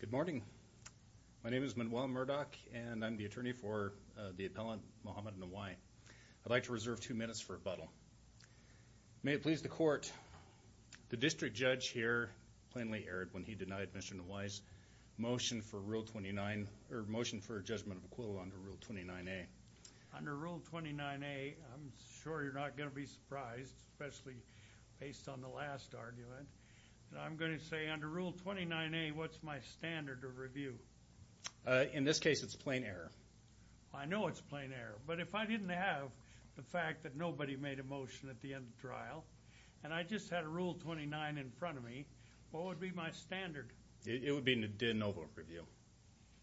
Good morning. My name is Manuel Murdock and I'm the attorney for the appellant Muhammad Nawai. I'd like to reserve two minutes for rebuttal. May it please the court, the district judge here plainly erred when he denied Mr. Nawai's motion for Rule 29 or motion for a judgment of equivalent under Rule 29a. Under Rule 29a, I'm sure you're not going to be surprised, especially based on the last argument, that I'm going to say under Rule 29a, what's my standard of review? In this case, it's plain error. I know it's plain error, but if I didn't have the fact that nobody made a motion at the end of trial and I just had a Rule 29 in front of me, what would be my standard? It would be a de novo review.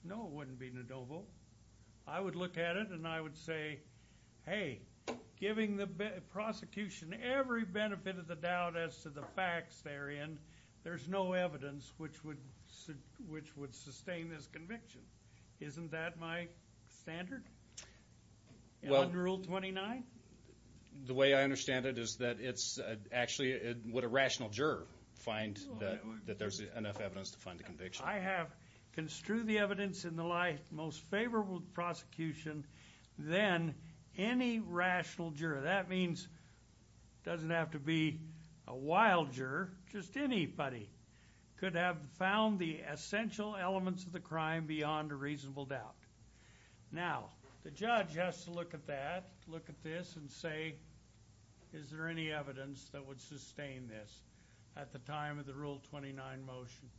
No, it wouldn't be de novo. I would look at it and I would say, hey, giving the prosecution every benefit of the doubt as to the facts they're in, there's no evidence which would sustain this conviction. Isn't that my standard? Well, under Rule 29? The way I understand it is that it's actually, would a rational juror find that there's enough evidence to find the conviction? I have construed the evidence in the life most favorable to the prosecution than any rational juror. That means it doesn't have to be a wild juror. Just anybody could have found the essential elements of the crime beyond a reasonable doubt. Now, the judge has to look at that, look at this, and say, is there any evidence that would sustain this at the time of the Rule 29 motion?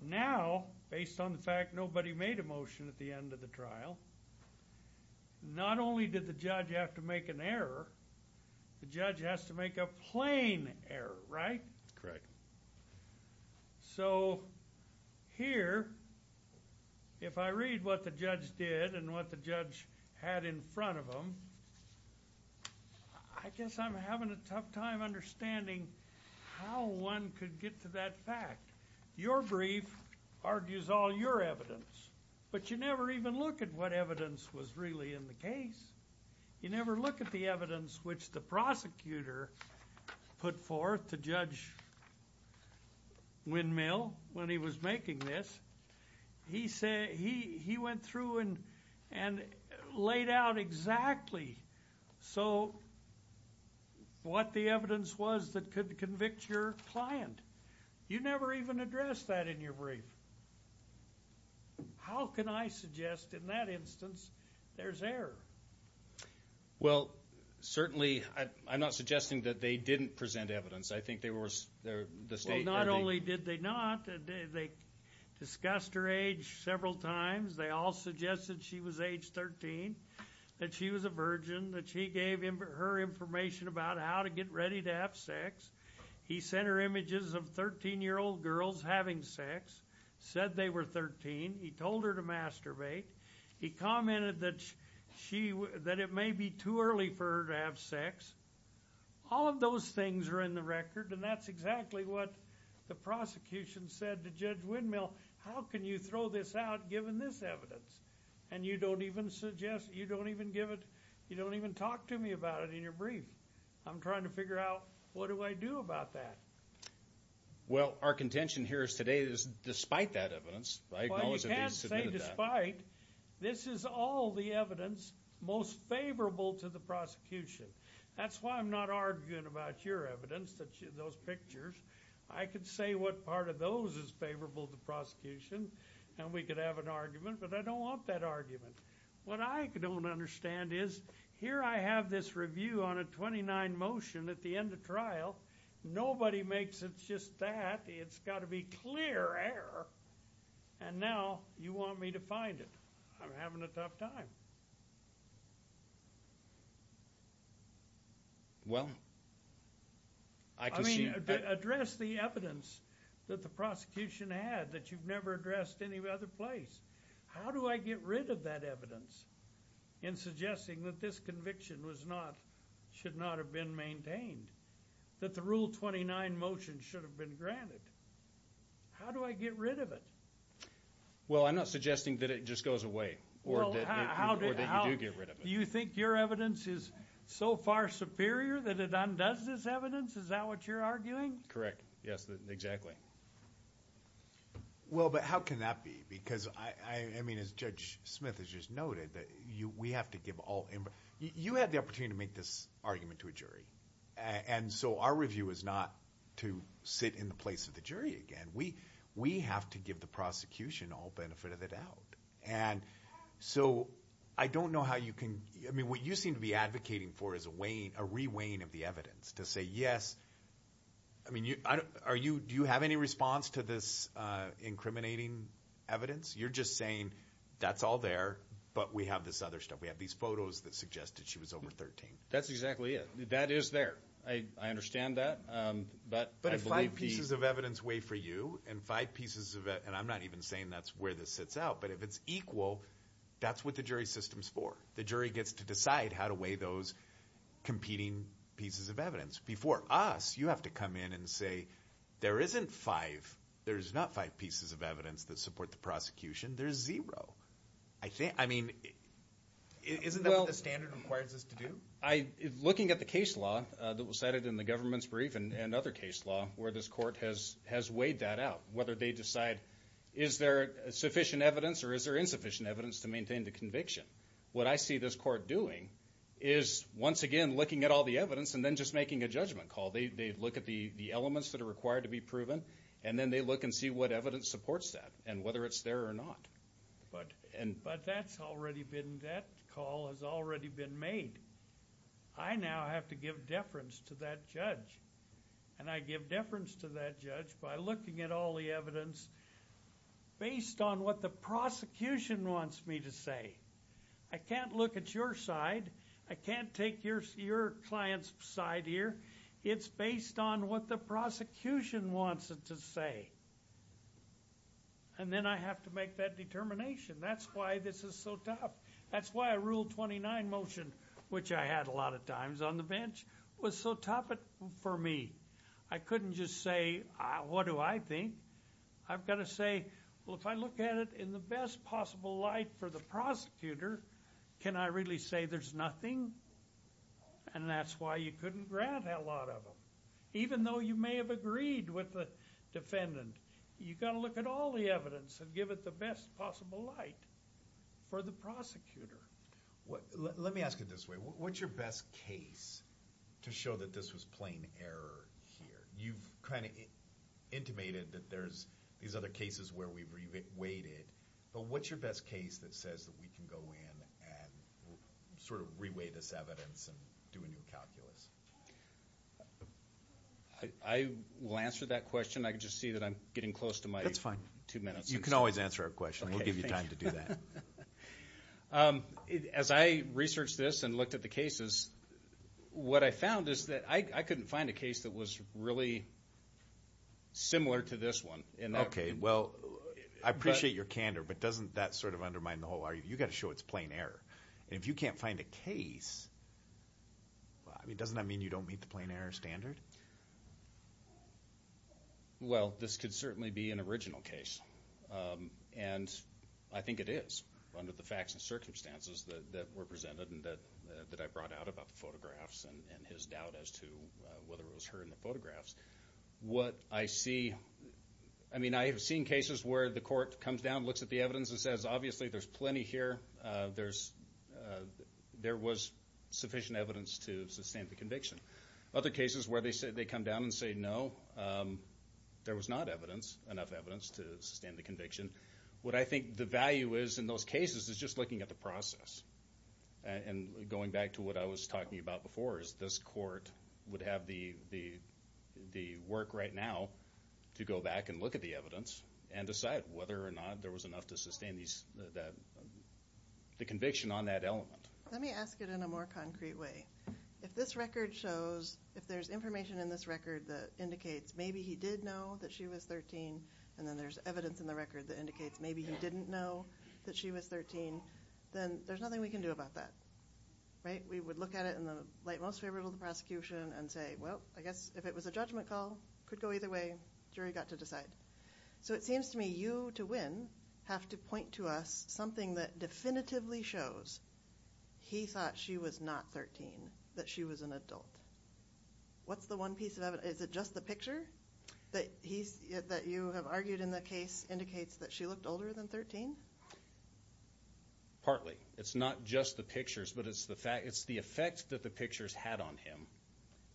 Now, based on the fact nobody made a motion at the end of the trial, not only did the judge have to make an error, the judge has to make a plain error, right? Correct. So here, if I read what the judge did and what the judge had in front of him, I guess I'm having a tough time understanding how one could get to that fact. Your brief argues all your evidence, but you never even look at what evidence was really in the case. You never look at the evidence which the prosecutor put forth to Judge Windmill when he was making this. He went through and laid out exactly what the evidence was that could convict your client. You never even addressed that in your brief. How can I suggest in that instance there's error? Well, certainly, I'm not suggesting that they didn't present evidence. I think they were... Not only did they not, they discussed her age several times. They all suggested she was age 13, that she was a virgin, that she gave him her information about how to get ready to have sex. He sent her images of 13-year-old girls having sex, said they were 13. He told her to masturbate. He commented that it may be too early for her to have sex. All of those things are in the record, and that's exactly what the prosecution said to Judge Windmill. How can you throw this out given this evidence? And you don't even suggest, you don't even give it, you don't even say, well, I'm trying to figure out what do I do about that? Well, our contention here today is despite that evidence, I acknowledge that they submitted that. Well, you can't say despite. This is all the evidence most favorable to the prosecution. That's why I'm not arguing about your evidence, those pictures. I could say what part of those is favorable to the prosecution, and we could have an argument, but I don't want that argument. What I don't understand is, here I have this review on a 29 motion at the end of trial. Nobody makes it just that. It's got to be clear error, and now you want me to find it. I'm having a tough time. Well, I can see... I mean, address the evidence that the prosecution had that you've never addressed any other place. How do I get rid of that evidence in suggesting that this conviction was not, should not have been maintained? That the Rule 29 motion should have been granted? How do I get rid of it? Well, I'm not suggesting that it just goes away. Do you think your evidence is so far superior that it undoes this evidence? Is that what you're arguing? Correct, yes, exactly. Well, but how can that be? Because, I mean, as Judge Smith has just noted, that we have to give all... You had the opportunity to make this argument to a jury, and so our review is not to sit in the place of the jury again. We have to give the prosecution all benefit of the doubt, and so I don't know how you can... I mean, what you seem to be advocating for is a re-weighing of the evidence to say, yes... I mean, do you have any response to this incriminating evidence? You're just saying, that's all there, but we have this other stuff. We have these photos that suggested she was over 13. That's exactly it. That is there. I understand that, but... But if five pieces of evidence weigh for you, and five pieces of it... And I'm not even saying that's where this sits out, but if it's equal, that's what the jury system's for. The jury gets to decide how to weigh those competing pieces of evidence. Before us, you have to come in and say, there isn't five... There's not five pieces of evidence that support the prosecution. There's zero. I think... I mean, isn't that what the standard requires us to do? Looking at the case law that was cited in the government's brief, and another case law, where this court has weighed that out. Whether they decide, is there sufficient evidence, or is there insufficient evidence to maintain the conviction? What I see this court doing is, once again, looking at all the evidence, and then just making a judgment call. They look at the elements that are required to be proven, and then they look and see what evidence supports that, and whether it's there or not. But that's already been... That call has already been made. I now have to give deference to that judge, and I give deference to that judge by looking at all the evidence based on what the prosecution wants me to say. I can't look at your side. I can't take your client's side here. It's based on what the prosecution wants it to say, and then I have to make that determination. That's why this is so tough. That's why a Rule 29 motion, which I had a lot of times on the bench, was so tough for me. I couldn't just say, what do I think? I've got to say, well, if I look at it in the best possible light for the prosecutor, can I really say there's nothing? And that's why you couldn't grant a lot of them. Even though you may have agreed with the defendant, you've got to look at all the evidence and give it the best possible light for the prosecutor. Let me ask it this way. What's your best case to show that this was plain error here? You've kind of intimated that there's these other cases where we've re-weighted, but what's your best case that says that we can go in and sort of re-weight this evidence and do a new calculus? I will answer that question. I can just see that I'm getting close to my two minutes. You can always answer our question. We'll give you time to do that. As I researched this and looked at the cases, what I found is that I couldn't find a case that was really similar to this one. Okay, well, I appreciate your candor, but doesn't that sort of undermine the whole argument? You've got to show it's plain error. If you can't find a case, I mean, doesn't that mean you don't meet the plain error standard? Well, this could certainly be an original case, and I think it is, under the facts and circumstances that were presented and that I brought out about photographs and his doubt as to whether it was her in the photographs. What I see, I mean, I have seen cases where the court comes down, looks at the evidence, and says, obviously there's plenty here. There was sufficient evidence to sustain the conviction. Other cases where they come down and say, no, there was not enough evidence to sustain the conviction, what I think the value is in those cases is just looking at the process and going back to what I was talking about before is this court would have the work right now to go back and look at the evidence and decide whether or not there was enough to sustain the conviction on that element. Let me ask it in a more concrete way. If this record shows, if there's information in this record that indicates maybe he did know that she was 13, and then there's evidence in the record that indicates maybe he didn't know that she was 13, then there's nothing we can do about that, right? We would look at it in the light most favorable to the prosecution and say, well, I guess if it was a judgment call, could go either way. Jury got to decide. So it seems to me you, to win, have to point to us something that definitively shows he thought she was not 13, that she was an adult. What's the one piece of evidence? Is it just the picture that you have argued in the case indicates that she looked older than 13? Partly. It's not just the pictures, but it's the fact, it's the effect that the pictures had on him.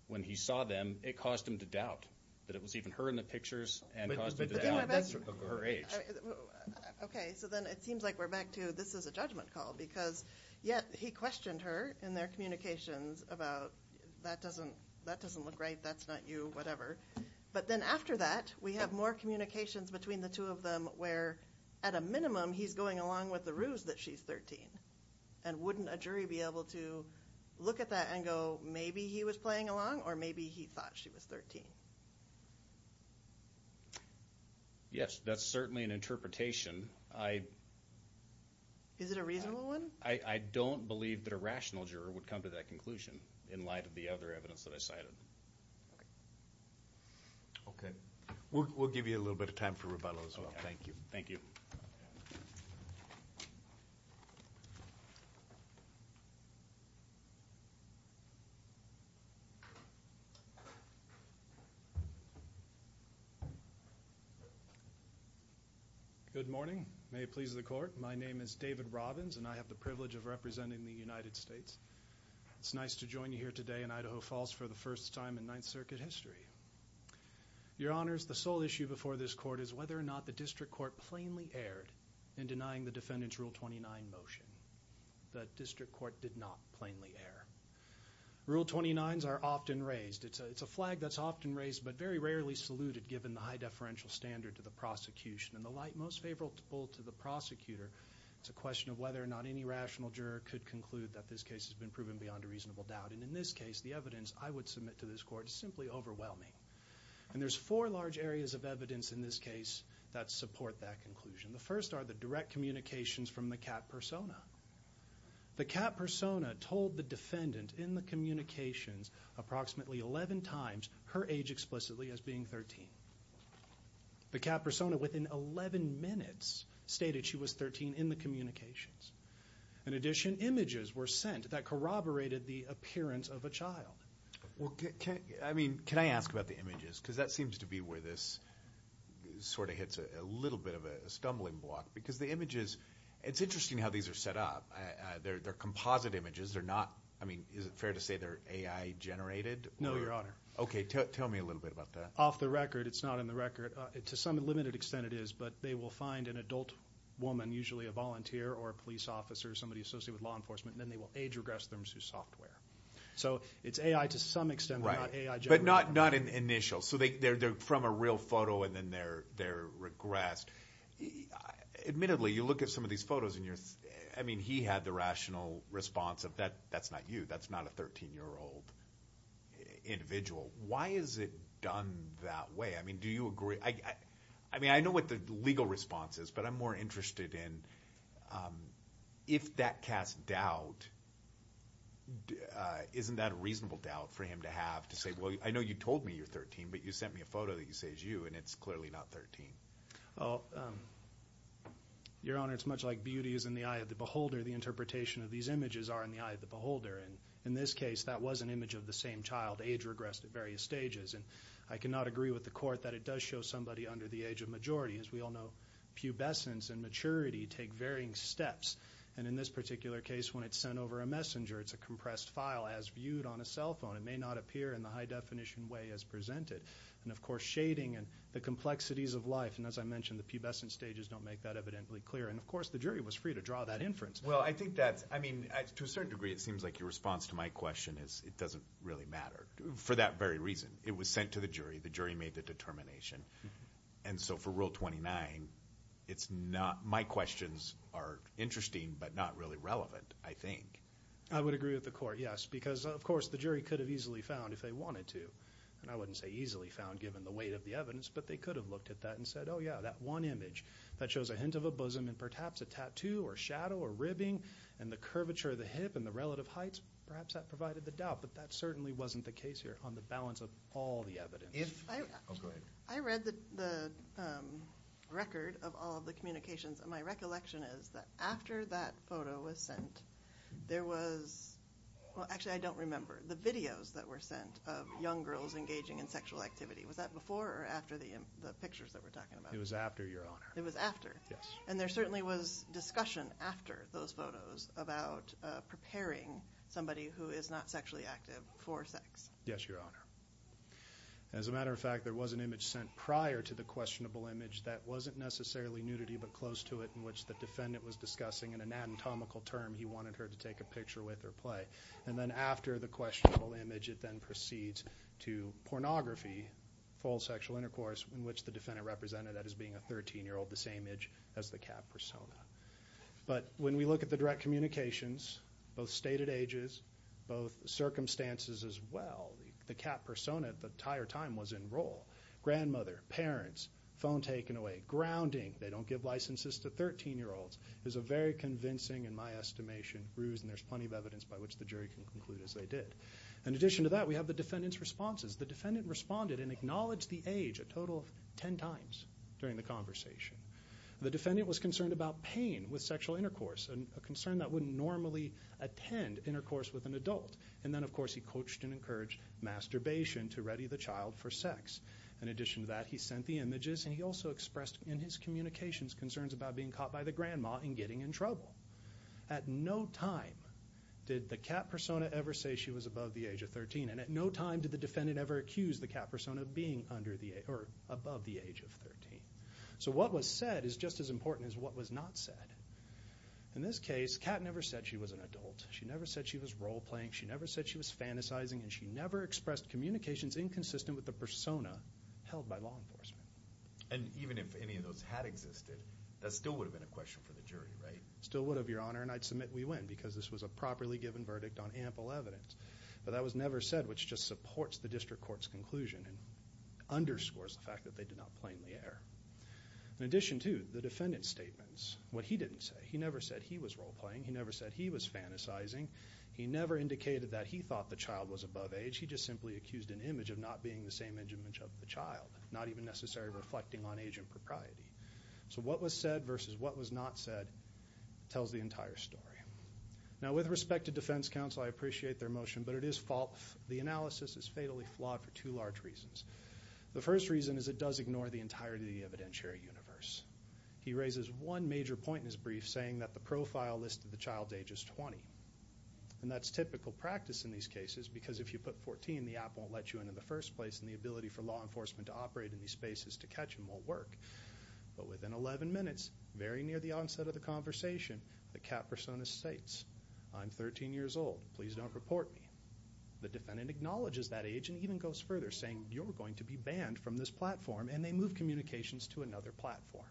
When he saw them, it caused him to doubt that it was even her in the pictures and caused him to doubt her age. Okay, so then it seems like we're back to this is a judgment call because yet he questioned her in their communications about that doesn't, that doesn't look right, that's not you, whatever. But then after that, we have more communications between the two of them where at a minimum he's going along with the ruse that she's 13. And wouldn't a jury be able to look at that and go maybe he was playing along or maybe he thought she was 13? Yes, that's certainly an interpretation. Is it a reasonable one? I don't believe that a rational juror would come to that conclusion in light of the other evidence that I cited. Okay, we'll give you a little bit of time for rebuttal as well. Thank you. Thank you. Good morning. May it please the court. My name is David Robbins and I have the privilege of representing the United States. It's nice to join you here today in Idaho Falls for the first time in Ninth Circuit history. Your Honors, the sole issue before this court is whether or not the district court plainly erred in denying the defendant's Rule 29 motion. The district court did not plainly err. Rule 29s are often raised. It's a flag that's often raised but very rarely saluted given the high deferential standard to the prosecution and the light most favorable to the prosecutor. It's a question of whether or not any rational juror could conclude that this case has been proven beyond a reasonable doubt. And in this case, the evidence I would submit to this court is simply overwhelming. And there's four large areas of evidence in this case that support that conclusion. The first are the direct communications from the cat persona. The cat persona told the defendant in the communications approximately 11 times her age explicitly as being 13. The cat persona within 11 minutes stated she was 13 in the communications. In addition, images were sent that corroborated the appearance of a child. Well, I mean, can I ask about the images because that seems to be where this sort of hits a little bit of a stumbling block because the images, it's interesting how these are set up. They're composite images. They're not, I mean, is it fair to say they're AI generated? No, Your Honor. Okay, tell me a little bit about that. Off the record, it's not on the record. To some limited extent it is, but they will find an adult woman, usually a volunteer or a police officer, somebody associated with law enforcement, and then they will age regress them to software. So it's AI to some extent. Right, but not an initial. So they're from a real photo and then they're regressed. Admittedly, you look at some of these photos and you're, I mean, he had the rational response of that, that's not you. That's not a thirteen-year-old individual. Why is it done that way? I mean, do you agree? I mean, I know what the legal response is, but I'm more interested in if that cast doubt, isn't that a reasonable doubt for him to have to say, well, I know you told me you're 13, but you sent me a photo that you say is you and it's clearly not 13. Oh, Your Honor, it's much like beauty is in the eye of the beholder. The interpretation of these images are in the eye of the beholder, and in this case, that was an image of the same child, age regressed at various stages, and I cannot agree with the court that it does show somebody under the age of majority. As we all know, pubescence and maturity take varying steps, and in this particular case, when it's sent over a messenger, it's a compressed file as viewed on a cell phone. It may not appear in the high-definition way as presented, and of course, shading and the complexities of life, and as I mentioned, the pubescent stages don't make that evidently clear, and of course, the jury was free to draw that inference. Well, I think that's, I mean, to a certain degree, it seems like your response to my question is it doesn't really matter for that very reason. It was sent to the jury. The jury made the determination, and so for Rule 29, it's not, my questions are interesting but not really relevant, I think. I would agree with the court, yes, because of course, the jury could have easily found if they wanted to, and I wouldn't say easily found given the weight of the evidence, but they could have looked at that and said, oh yeah, that one image that shows a hint of a bosom and perhaps a tattoo or shadow or ribbing, and the curvature of the hip and the relative heights, perhaps that provided the doubt, but that certainly wasn't the case here on the balance of all the evidence. I read the record of all the communications, and my recollection is that after that photo was sent, there was, well actually, I don't remember, the videos that were sent of young girls engaging in sexual activity. Was that before or after the pictures that we're talking about? It was after, Your Honor. It was after? Yes. And there certainly was discussion after those photos about preparing somebody who is not sexually active for sex? Yes, Your Honor. As a matter of fact, there was an image sent prior to the questionable image that wasn't necessarily nudity but close to it, in which the defendant was discussing an anatomical term he wanted her to take a picture with or play, and then after the questionable image, it then proceeds to pornography, full sexual intercourse, in which the defendant represented that as being a 13-year-old, the same age as the cat persona. But when we look at the direct communications, both stated ages, both circumstances as well, the cat persona at the entire time was in role. Grandmother, parents, phone taken away, grounding, they don't give licenses to 13-year-olds, is a very convincing, in my estimation, ruse, and there's plenty of evidence by which the jury can conclude as they did. In addition to that, we have the defendant's responses. The defendant responded and acknowledged the age a total of ten times during the conversation. The defendant was concerned about pain with sexual intercourse, and a concern that wouldn't normally attend intercourse with an adult. And then, of course, he coached and encouraged masturbation to ready the child for sex. In addition to that, he sent the images, and he also expressed in his communications concerns about being caught by the grandma and getting in trouble. At no time did the cat persona ever say she was above the age of 13, and at no time did the defendant ever accuse the cat persona of being under the age, or above the age of 13. So what was said is just as important as what was not said. In this case, Cat never said she was an adult. She never said she was role-playing. She never said she was fantasizing, and she never expressed communications inconsistent with the persona held by law enforcement. And even if any of those had existed, that still would have been a question for the jury, right? Still would have, Your Honor, and I'd submit we win, because this was a properly given verdict on ample evidence. But that was never said, which just supports the district court's conclusion, and underscores the fact that they did not plainly err. In addition to the defendant's statements, what he didn't say, he never said he was role-playing. He never said he was fantasizing. He never indicated that he thought the child was above age. He just simply accused an image of not being the same age of the child, not even necessarily reflecting on age and propriety. So what was said versus what was not said tells the entire story. Now with respect to defense counsel, I appreciate their motion, but it is false. The analysis is fatally flawed for two large reasons. The first reason is it does ignore the entirety of the evidentiary universe. He raises one major point in his brief, saying that the profile list of the child's age is 20. And that's typical practice in these cases, because if you put 14, the app won't let you in in the first place, and the ability for law enforcement to operate in these spaces to catch him won't work. But within 11 minutes, very near the onset of the conversation, the cat persona states, I'm 13 years old, please don't report me. The defendant acknowledges that age and even goes further, saying you're going to be banned from this platform, and they move communications to another platform.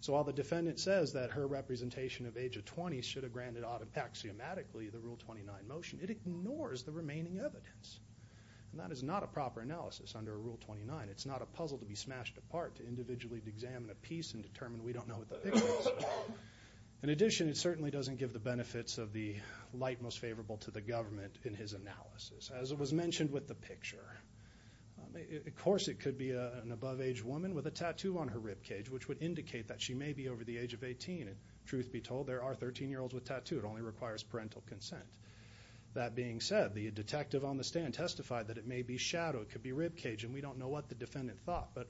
So while the defendant says that her representation of age of 20 should have granted out of axiomatically the Rule 29 motion, it ignores the remaining evidence. And that is not a proper analysis under Rule 29. It's not a puzzle to be smashed apart, to individually examine a piece and determine we don't know what the picture is. In addition, it certainly doesn't give the benefits of the light most favorable to the government in his analysis, as it was mentioned with the picture. Of course, it could be an above-age woman with a tattoo on her ribcage, which would indicate that she may be over the age of 18. And truth be told, there are 13-year-olds with tattoos. It only requires parental consent. That being said, the detective on the stand testified that it may be a ribcage, and we don't know what the defendant thought. But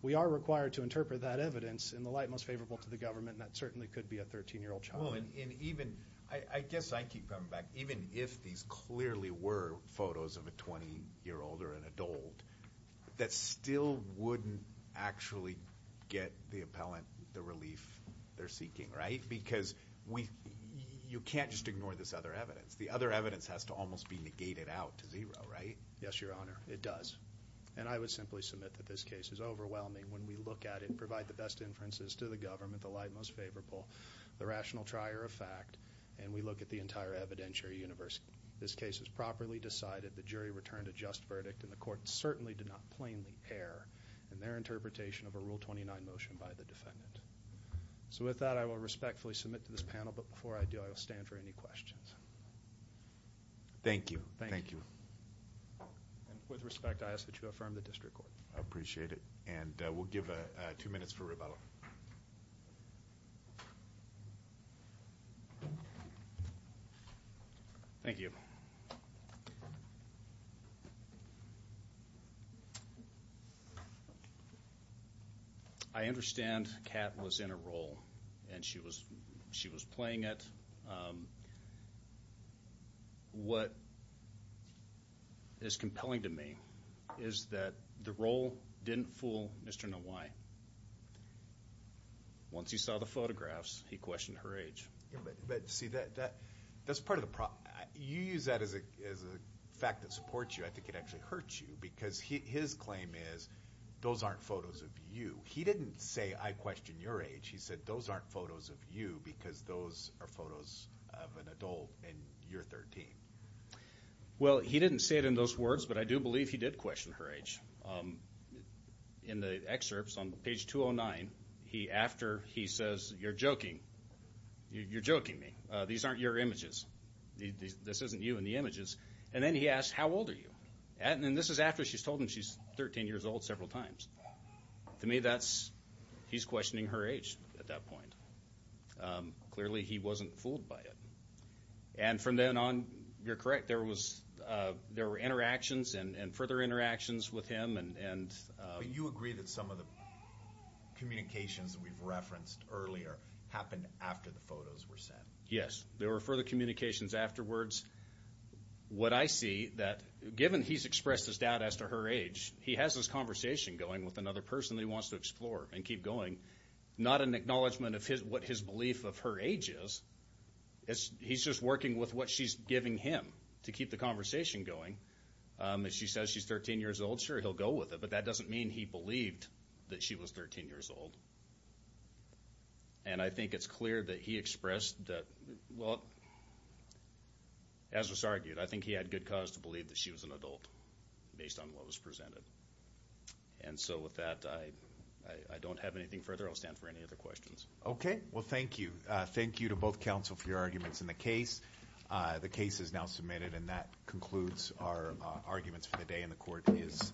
we are required to interpret that evidence in the light most favorable to the government, and that certainly could be a 13-year-old child. Well, and even, I guess I keep coming back, even if these clearly were photos of a 20-year-old or an adult, that still wouldn't actually get the appellant the relief they're seeking, right? Because we, you can't just ignore this other evidence. The other evidence has to almost be negated out to zero, right? Yes, Your Honor, it does. And I would simply submit that this case is overwhelming when we look at it and provide the best inferences to the government, the light most favorable, the rational trier of fact, and we look at the entire evidentiary universe. This case is properly decided. The jury returned a just verdict, and the court certainly did not plainly err in their interpretation of a Rule 29 motion by the defendant. So with that, I will respectfully submit to this panel, but before I do, I will stand for any questions. Thank you. Thank you. And with respect, I ask that you affirm the district court. I appreciate it, and we'll give two minutes for rebuttal. Thank you. I understand Kat was in a role, and she was she was playing it. What is compelling to me is that the role didn't fool Mr. Nwai. Once he saw the photographs, he questioned her age. But see, that's part of the problem. You use that as a fact that supports you. I think it actually hurts you, because his claim is, those aren't photos of you. He didn't say, I question your age. He said, those aren't photos of you, because those are photos of an adult in year 13. Well, he didn't say it in those words, but I do believe he did question her age. In the excerpts on page 209, after he says, you're joking, you're joking me. These aren't your images. This isn't you in the images. And then he asked, how old are you? And this is after she's told him she's 13 years old several times. To me, that's, he's questioning her age at that point. Clearly, he wasn't fooled by it. And from then on, you're correct, there were interactions and further interactions with him. But you agree that some of the communications we've referenced earlier happened after the photos were sent. Yes, there were further communications afterwards. What I see, that given he's expressed his doubt as to her age, he has this conversation going with another person that he wants to explore and keep going. Not an acknowledgment of what his belief of her age is. He's just working with what she's giving him to keep the conversation going. If she says she's 13 years old, sure, he'll go with it. But that doesn't mean he believed that she was 13 years old. And I think it's clear that he expressed that, well, as was argued, I think he had good cause to believe that she was an adult based on what was presented. And so with that, I don't have anything further. I'll stand for any other questions. Okay, well thank you. Thank you to both counsel for your arguments in the case. The case is now submitted and that concludes our arguments for the day and the court is adjourned.